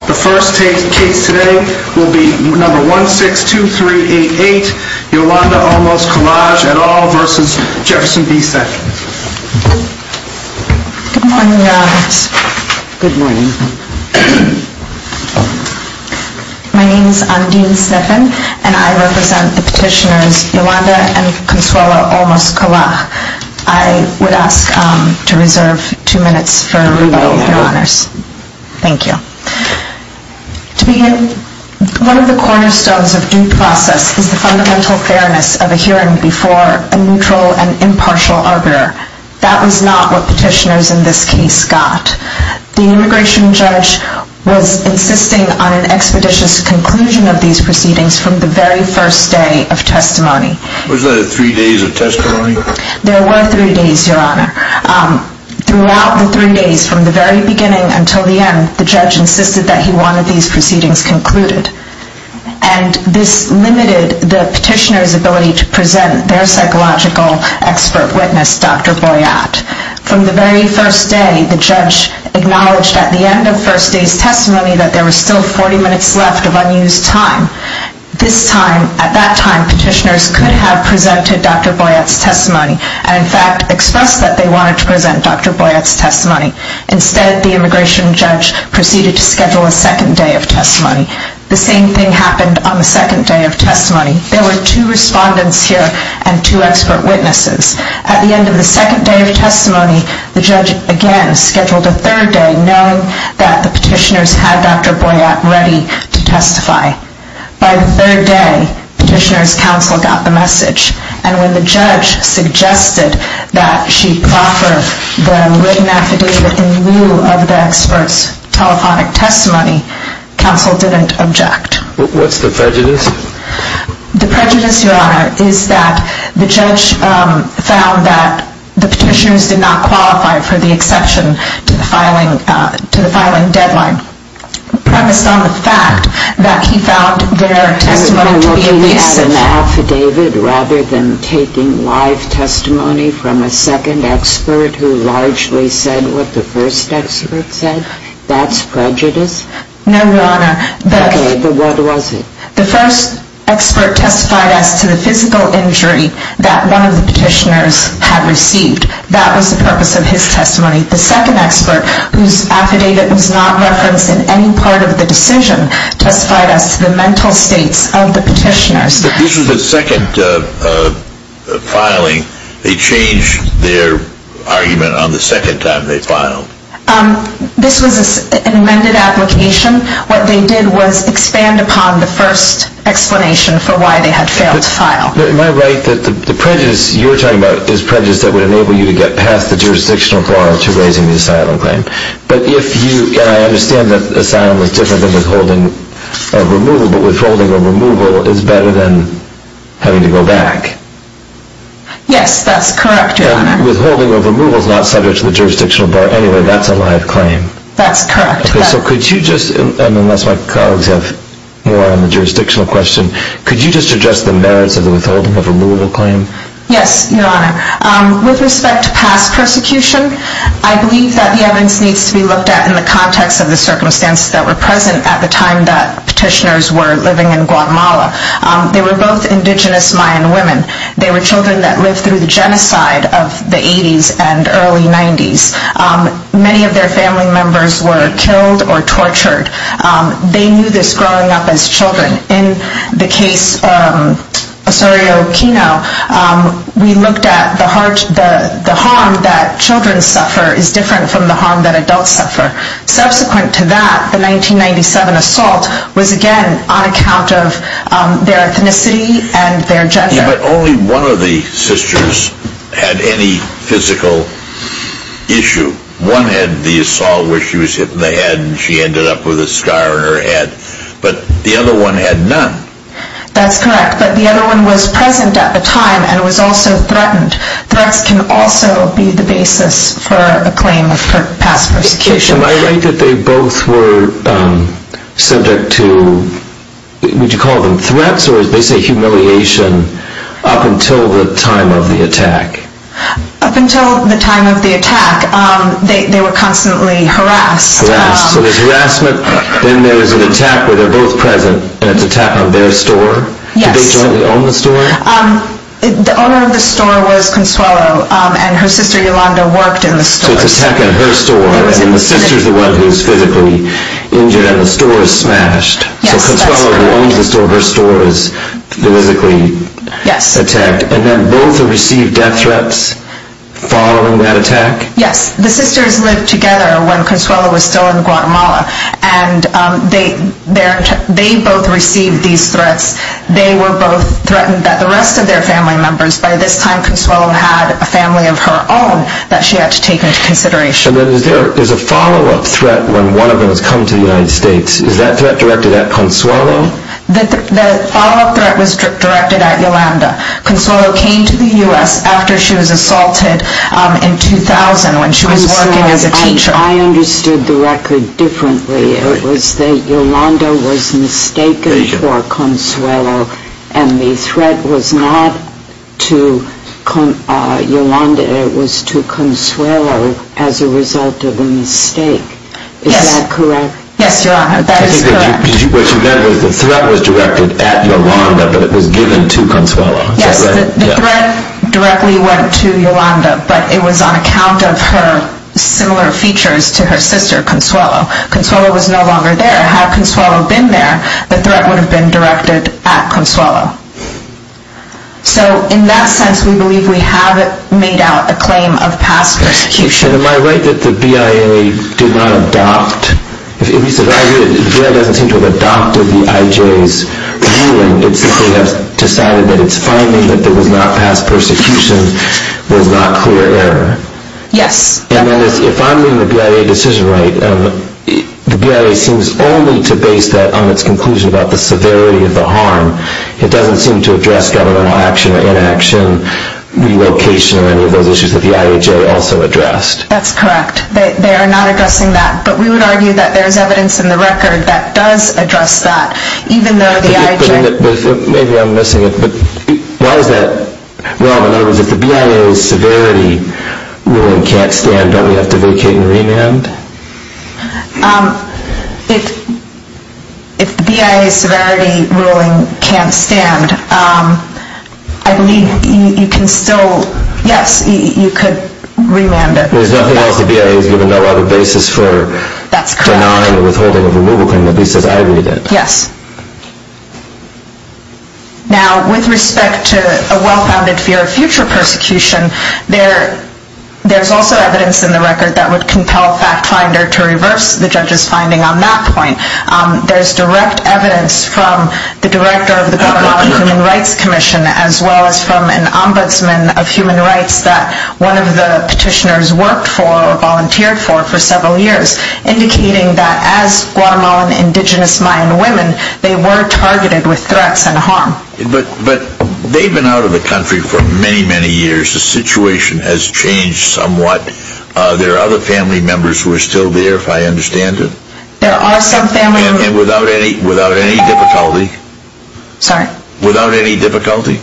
The first case today will be No. 162388, Yolanda Olmos-Colaj et al. v. Jefferson B. Sessions. Good morning, Your Honors. Good morning. My name is Andine Sniffen, and I represent the petitioners Yolanda and Consuelo Olmos-Colaj. I would ask to reserve two minutes for everybody, Your Honors. Thank you. To begin, one of the cornerstones of due process is the fundamental fairness of a hearing before a neutral and impartial arbiter. That was not what petitioners in this case got. The immigration judge was insisting on an expeditious conclusion of these proceedings from the very first day of testimony. Was there three days of testimony? There were three days, Your Honor. Throughout the three days, from the very beginning until the end, the judge insisted that he wanted these proceedings concluded. And this limited the petitioners' ability to present their psychological expert witness, Dr. Boyatt. From the very first day, the judge acknowledged at the end of first day's testimony that there were still 40 minutes left of unused time. At that time, petitioners could have presented Dr. Boyatt's testimony and, in fact, expressed that they wanted to present Dr. Boyatt's testimony. Instead, the immigration judge proceeded to schedule a second day of testimony. The same thing happened on the second day of testimony. There were two respondents here and two expert witnesses. At the end of the second day of testimony, the judge again scheduled a third day, knowing that the petitioners had Dr. Boyatt ready to testify. By the third day, petitioners' counsel got the message. And when the judge suggested that she proffer the written affidavit in lieu of the expert's telephonic testimony, counsel didn't object. What's the prejudice? The prejudice, Your Honor, is that the judge found that the petitioners did not qualify for the exception to the filing deadline, premised on the fact that he found their testimony to be abusive. You're looking at an affidavit rather than taking live testimony from a second expert who largely said what the first expert said? That's prejudice? No, Your Honor. Okay, but what was it? The first expert testified as to the physical injury that one of the petitioners had received. That was the purpose of his testimony. The second expert, whose affidavit was not referenced in any part of the decision, testified as to the mental states of the petitioners. But this was the second filing. They changed their argument on the second time they filed? This was an amended application. What they did was expand upon the first explanation for why they had failed to file. Am I right that the prejudice you're talking about is prejudice that would enable you to get past the jurisdictional bar to raising the asylum claim? But if you, and I understand that asylum is different than withholding a removal, but withholding a removal is better than having to go back? Yes, that's correct, Your Honor. Withholding a removal is not subject to the jurisdictional bar. Anyway, that's a live claim. That's correct. Okay, so could you just, unless my colleagues have more on the jurisdictional question, could you just address the merits of the withholding of a removal claim? Yes, Your Honor. With respect to past persecution, I believe that the evidence needs to be looked at in the context of the circumstances that were present at the time that petitioners were living in Guatemala. They were both indigenous Mayan women. They were children that lived through the genocide of the 80s and early 90s. Many of their family members were killed or tortured. They knew this growing up as children. In the case Osorio-Quino, we looked at the harm that children suffer is different from the harm that adults suffer. Subsequent to that, the 1997 assault was, again, on account of their ethnicity and their gender. But only one of the sisters had any physical issue. One had the assault where she was hit in the head and she ended up with a scar on her head. But the other one had none. That's correct. But the other one was present at the time and was also threatened. Threats can also be the basis for a claim for past persecution. Am I right that they both were subject to, would you call them threats, or they say humiliation up until the time of the attack? Up until the time of the attack, they were constantly harassed. So there's harassment, then there's an attack where they're both present, and it's an attack on their store? Yes. Did they jointly own the store? The owner of the store was Consuelo, and her sister Yolanda worked in the store. So it's an attack on her store, and the sister's the one who's physically injured and the store is smashed. Yes, that's correct. So Consuelo owns the store, her store is physically attacked. Yes. And then both received death threats following that attack? Yes. The sisters lived together when Consuelo was still in Guatemala, and they both received these threats. They were both threatened that the rest of their family members, by this time Consuelo had a family of her own that she had to take into consideration. There's a follow-up threat when one of them has come to the United States. Is that threat directed at Consuelo? The follow-up threat was directed at Yolanda. Consuelo came to the U.S. after she was assaulted in 2000 when she was working as a teacher. I understood the record differently. It was that Yolanda was mistaken for Consuelo and the threat was not to Yolanda, it was to Consuelo as a result of a mistake. Yes. Is that correct? Yes, Your Honor, that is correct. What she meant was the threat was directed at Yolanda, but it was given to Consuelo. Yes, the threat directly went to Yolanda, but it was on account of her similar features to her sister, Consuelo. Consuelo was no longer there. Had Consuelo been there, the threat would have been directed at Consuelo. So in that sense, we believe we have made out a claim of past persecution. Am I right that the BIA did not adopt? If the BIA doesn't seem to have adopted the IJ's ruling, it simply has decided that it's finding that there was not past persecution was not clear error. Yes. And if I'm reading the BIA decision right, the BIA seems only to base that on its conclusion about the severity of the harm. It doesn't seem to address governmental action or inaction, relocation, or any of those issues that the IJ also addressed. That's correct. They are not addressing that, but we would argue that there is evidence in the record that does address that, even though the IJ... Maybe I'm missing it, but why is that wrong? In other words, if the BIA's severity ruling can't stand, don't we have to vacate and remand? If the BIA's severity ruling can't stand, I believe you can still, yes, you could remand it. There's nothing else the BIA has given no other basis for denying or withholding of a removal claim, at least as I read it. Yes. Now, with respect to a well-founded fear of future persecution, there's also evidence in the record that would compel FactFinder to reverse the judge's finding on that point. There's direct evidence from the director of the Guatemalan Human Rights Commission, as well as from an ombudsman of human rights that one of the petitioners worked for or volunteered for for several years, indicating that as Guatemalan indigenous Mayan women, they were targeted with threats and harm. But they've been out of the country for many, many years. The situation has changed somewhat. There are other family members who are still there, if I understand it. There are some family members... And without any difficulty? Sorry? Without any difficulty?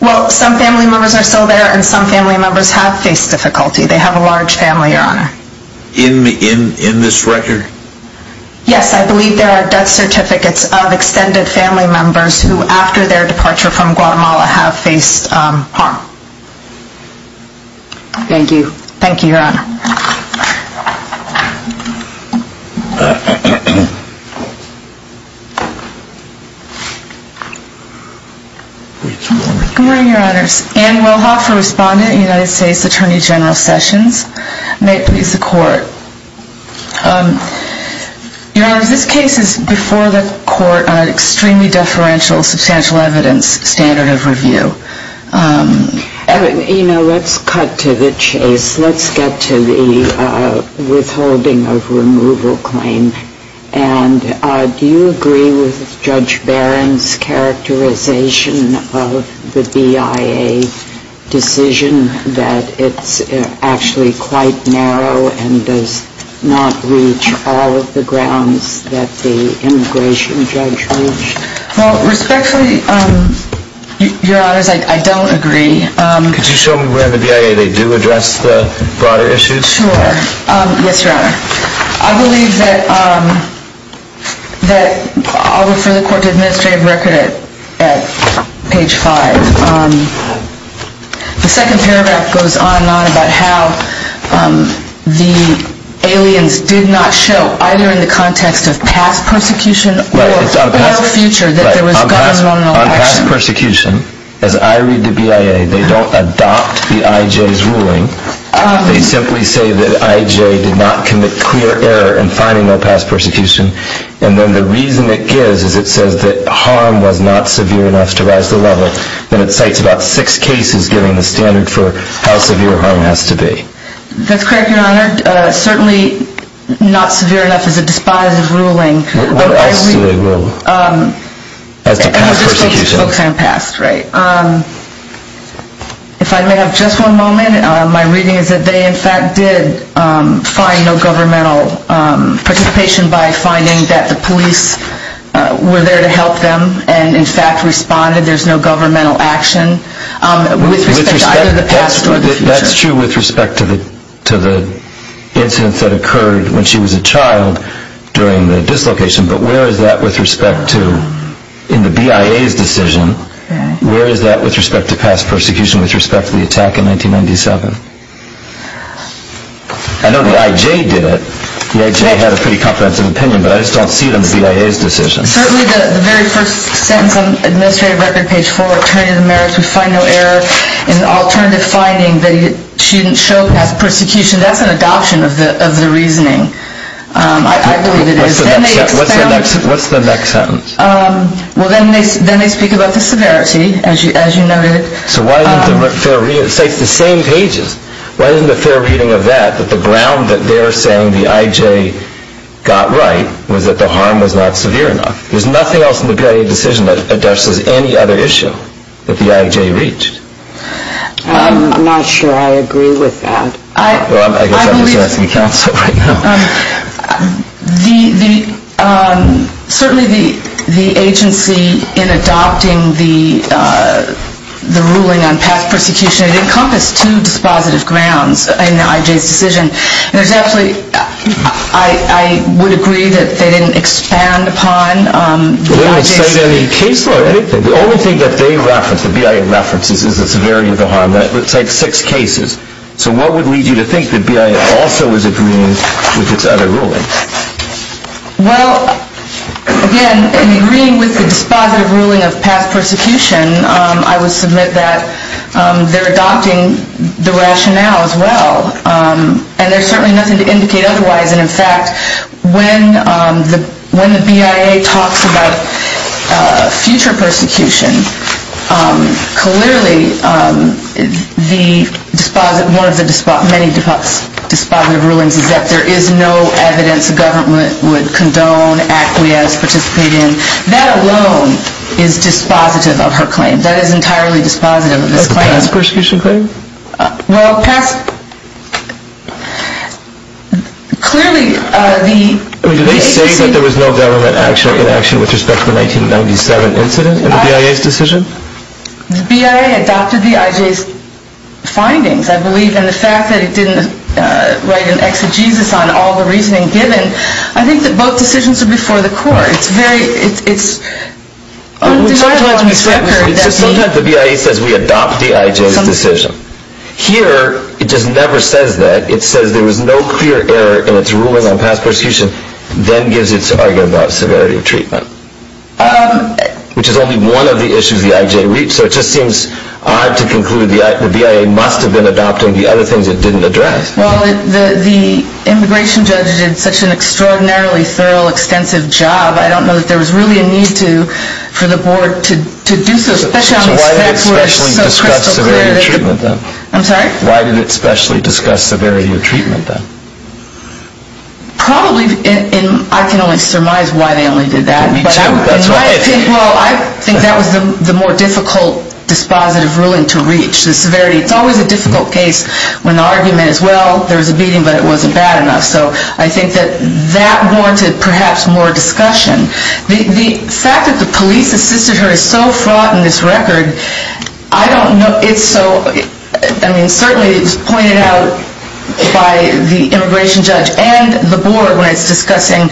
Well, some family members are still there, and some family members have faced difficulty. They have a large family, Your Honor. In this record? Yes, I believe there are death certificates of extended family members who, after their departure from Guatemala, have faced harm. Thank you, Your Honor. Good morning, Your Honors. Ann Wilhoff, a respondent in the United States Attorney General Sessions. May it please the Court. Your Honor, this case is before the Court on an extremely deferential substantial evidence standard of review. You know, let's cut to the chase. Let's get to the withholding of removal claim. And do you agree with Judge Barron's characterization of the BIA decision that it's actually quite narrow and does not reach all of the grounds that the immigration judge reached? Well, respectfully, Your Honors, I don't agree. Could you show me where in the BIA they do address the broader issues? Sure. Yes, Your Honor. I believe that, I'll refer the Court to Administrative Record at page 5. The second paragraph goes on and on about how the aliens did not show, either in the context of past persecution or future, that there was gun control. On past persecution, as I read the BIA, they don't adopt the IJ's ruling. They simply say that IJ did not commit clear error in finding no past persecution. And then the reason it gives is it says that harm was not severe enough to rise the level. Then it cites about six cases giving the standard for how severe harm has to be. That's correct, Your Honor. Certainly not severe enough is a despised ruling. What else do they rule? As to past persecution. Okay, past, right. If I may have just one moment. My reading is that they, in fact, did find no governmental participation by finding that the police were there to help them and, in fact, responded. There's no governmental action with respect to either the past or the future. That's true with respect to the incidents that occurred when she was a child during the dislocation. But where is that with respect to, in the BIA's decision, where is that with respect to past persecution with respect to the attack in 1997? I know the IJ did it. The IJ had a pretty comprehensive opinion. But I just don't see it in the BIA's decision. Certainly the very first sentence on administrative record, page 4, attorney of the merits, we find no error in alternative finding that she didn't show past persecution. That's an adoption of the reasoning, I believe it is. What's the next sentence? Well, then they speak about the severity, as you noted. So why isn't the fair reading? It's the same pages. Why isn't the fair reading of that that the ground that they're saying the IJ got right was that the harm was not severe enough? There's nothing else in the BIA decision that addresses any other issue that the IJ reached. I'm not sure I agree with that. Well, I guess I'm just asking counsel right now. Certainly the agency in adopting the ruling on past persecution, it encompassed two dispositive grounds in the IJ's decision. There's actually, I would agree that they didn't expand upon the IJ's... They didn't extend any case law. The only thing that they reference, the BIA references, is the severity of the harm. It's like six cases. So what would lead you to think that BIA also is agreeing with its other ruling? Well, again, in agreeing with the dispositive ruling of past persecution, I would submit that they're adopting the rationale as well. And there's certainly nothing to indicate otherwise. And, in fact, when the BIA talks about future persecution, clearly one of the many dispositive rulings is that there is no evidence the government would condone, acquiesce, participate in. That alone is dispositive of her claim. That is entirely dispositive of this claim. Of past persecution claim? Well, clearly the agency... Are you saying that there was no government action or inaction with respect to the 1997 incident in the BIA's decision? The BIA adopted the IJ's findings, I believe. And the fact that it didn't write an exegesis on all the reasoning given, I think that both decisions are before the court. Sometimes the BIA says we adopt the IJ's decision. Here, it just never says that. It says there was no clear error in its ruling on past persecution, then gives its argument about severity of treatment, which is only one of the issues the IJ reached. So it just seems odd to conclude the BIA must have been adopting the other things it didn't address. Well, the immigration judge did such an extraordinarily thorough, extensive job, I don't know that there was really a need for the board to do so. So why did it specially discuss severity of treatment, then? I'm sorry? Why did it specially discuss severity of treatment, then? Probably, and I can only surmise why they only did that. Me too. Well, I think that was the more difficult dispositive ruling to reach, the severity. It's always a difficult case when the argument is, well, there was a beating, but it wasn't bad enough. So I think that that warranted perhaps more discussion. The fact that the police assisted her is so fraught in this record, I don't know. It's so, I mean, certainly it's pointed out by the immigration judge and the board when it's discussing,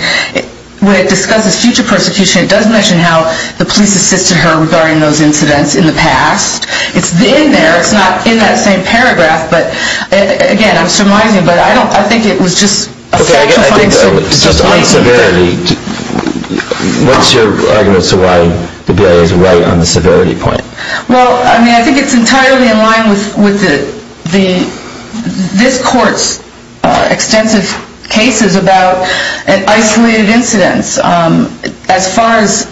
when it discusses future persecution, it does mention how the police assisted her regarding those incidents in the past. It's in there, it's not in that same paragraph, but again, I'm surmising, but I don't, I think it was just a factifying statement. Okay, again, just on severity, what's your argument as to why the BIA is right on the severity point? Well, I mean, I think it's entirely in line with the, this court's extensive cases about isolated incidents. As far as,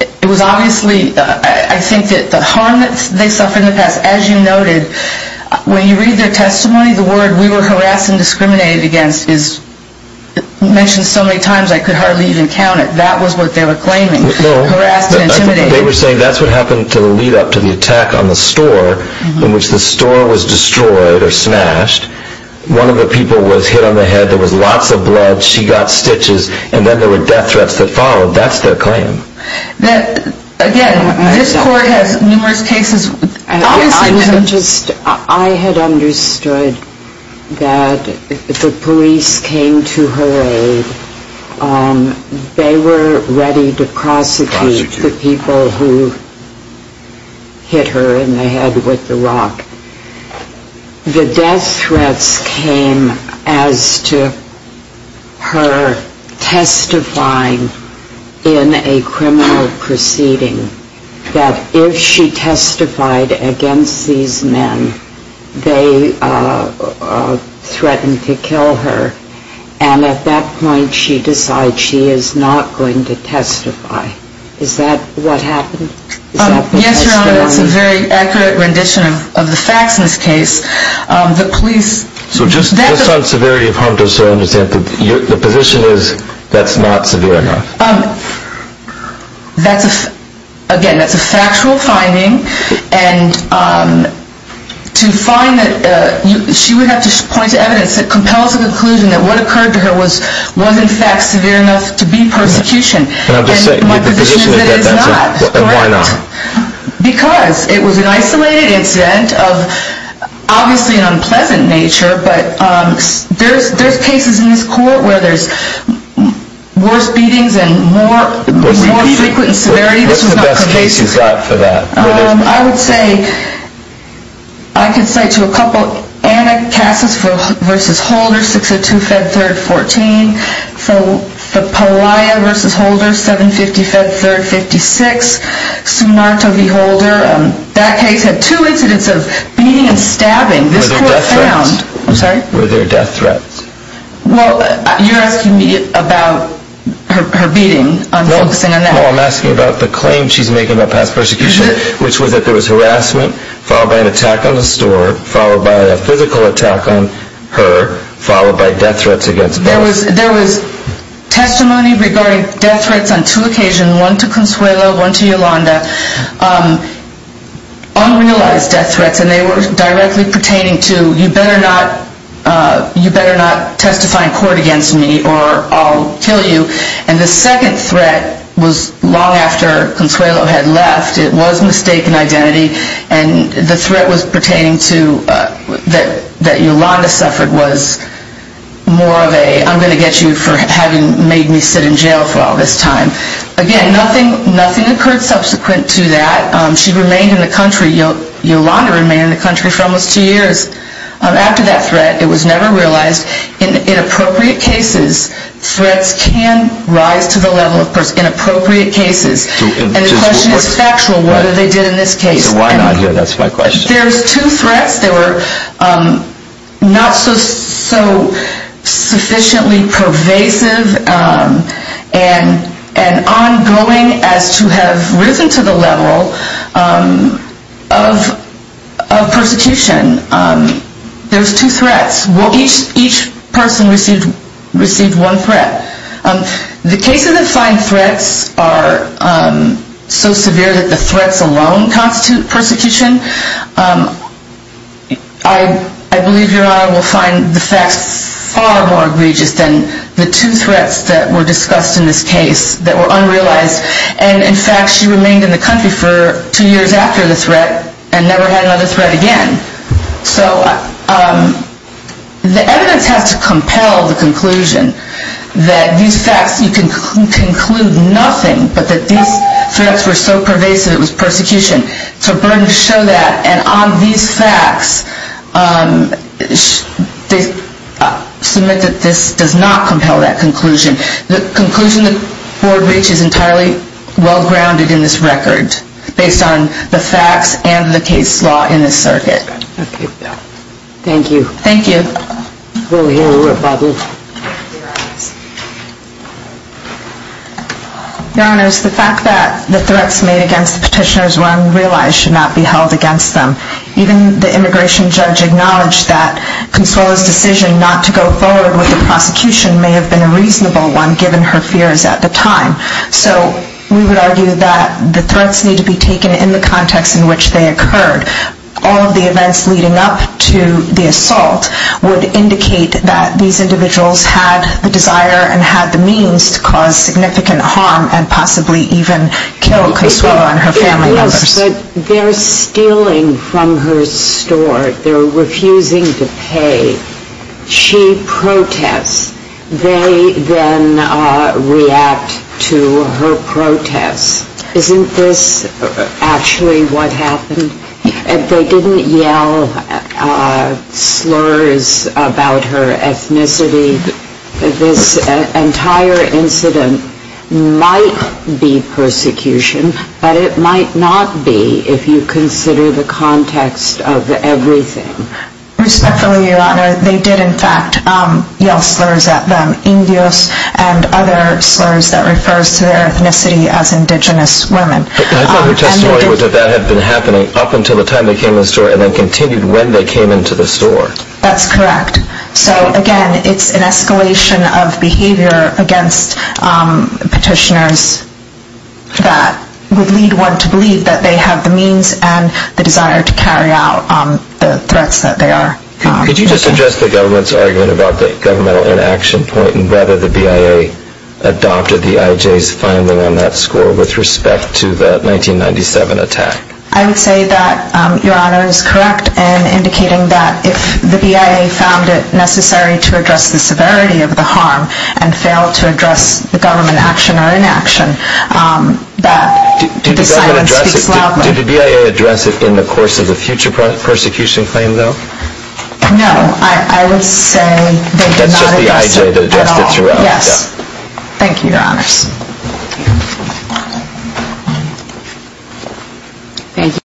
it was obviously, I think that the harm that they suffered in the past, as you noted, when you read their testimony, the word we were harassed and discriminated against is mentioned so many times I could hardly even count it. That was what they were claiming, harassed and intimidated. They were saying that's what happened to the lead up to the attack on the store, in which the store was destroyed or smashed. One of the people was hit on the head. There was lots of blood. She got stitches, and then there were death threats that followed. That's their claim. That, again, this court has numerous cases. I had understood that the police came to her aid. They were ready to prosecute the people who hit her in the head with the rock. The death threats came as to her testifying in a criminal proceeding, that if she testified against these men, they threatened to kill her, and at that point she decides she is not going to testify. Is that what happened? Yes, Your Honor. That's a very accurate rendition of the facts in this case. So just on severity of harm, just so I understand, the position is that's not severe enough? Again, that's a factual finding. To find that, she would have to point to evidence that compels the conclusion that what occurred to her was in fact severe enough to be persecution. And my position is that is not. Why not? Because it was an isolated incident of obviously an unpleasant nature, but there's cases in this court where there's worse beatings and more frequent severity. What's the best case you've got for that? I would say, I could cite you a couple. Anacassis v. Holder, 602-Fed-3rd-14. Pelaya v. Holder, 750-Fed-3rd-56. Sumarto v. Holder. That case had two incidents of beating and stabbing. Were there death threats? I'm sorry? Were there death threats? Well, you're asking me about her beating. I'm focusing on that. No, I'm asking about the claim she's making about past persecution, which was that there was harassment, followed by an attack on the store, followed by a physical attack on her, followed by death threats against both. There was testimony regarding death threats on two occasions, one to Consuelo, one to Yolanda, unrealized death threats, and they were directly pertaining to, you better not testify in court against me or I'll kill you. And the second threat was long after Consuelo had left. It was mistaken identity, and the threat was pertaining to that Yolanda suffered was more of a, I'm going to get you for having made me sit in jail for all this time. Again, nothing occurred subsequent to that. She remained in the country, Yolanda remained in the country for almost two years. After that threat, it was never realized. In inappropriate cases, threats can rise to the level, of course, inappropriate cases. And the question is factual, what did they do in this case? So why not here? That's my question. There's two threats that were not so sufficiently pervasive and ongoing as to have risen to the level of persecution. There's two threats. Each person received one threat. The cases that find threats are so severe that the threats alone constitute persecution. I believe Your Honor will find the facts far more egregious than the two threats that were discussed in this case that were unrealized. And, in fact, she remained in the country for two years after the threat and never had another threat again. So the evidence has to compel the conclusion that these facts, you can conclude nothing but that these threats were so pervasive it was persecution. It's a burden to show that. And on these facts, they submit that this does not compel that conclusion. The conclusion the Board reaches is entirely well-grounded in this record, based on the facts and the case law in this circuit. Thank you. Thank you. We'll hear a rebuttal. Your Honor, it's the fact that the threats made against the petitioners were unrealized should not be held against them. Even the immigration judge acknowledged that Consuelo's decision not to go forward with the prosecution may have been a reasonable one, given her fears at the time. So we would argue that the threats need to be taken in the context in which they occurred. All of the events leading up to the assault would indicate that these individuals had the desire and had the means to cause significant harm and possibly even kill Consuelo and her family members. But they're stealing from her store. They're refusing to pay. She protests. They then react to her protests. Isn't this actually what happened? If they didn't yell slurs about her ethnicity, this entire incident might be persecution. But it might not be if you consider the context of everything. Respectfully, Your Honor, they did, in fact, yell slurs at them. Indios and other slurs that refers to their ethnicity as indigenous women. I thought her testimony was that that had been happening up until the time they came in the store and then continued when they came into the store. That's correct. So, again, it's an escalation of behavior against petitioners that would lead one to believe that they have the means and the desire to carry out the threats that they are. Could you just address the government's argument about the governmental inaction point and whether the BIA adopted the IJ's finding on that score with respect to the 1997 attack? I would say that Your Honor is correct in indicating that if the BIA found it necessary to address the severity of the harm and failed to address the government action or inaction, that the silence speaks loudly. Did the BIA address it in the course of the future persecution claim, though? No, I would say they did not address it at all. That's just the IJ that addressed it throughout. Yes. Thank you, Your Honors. Thank you.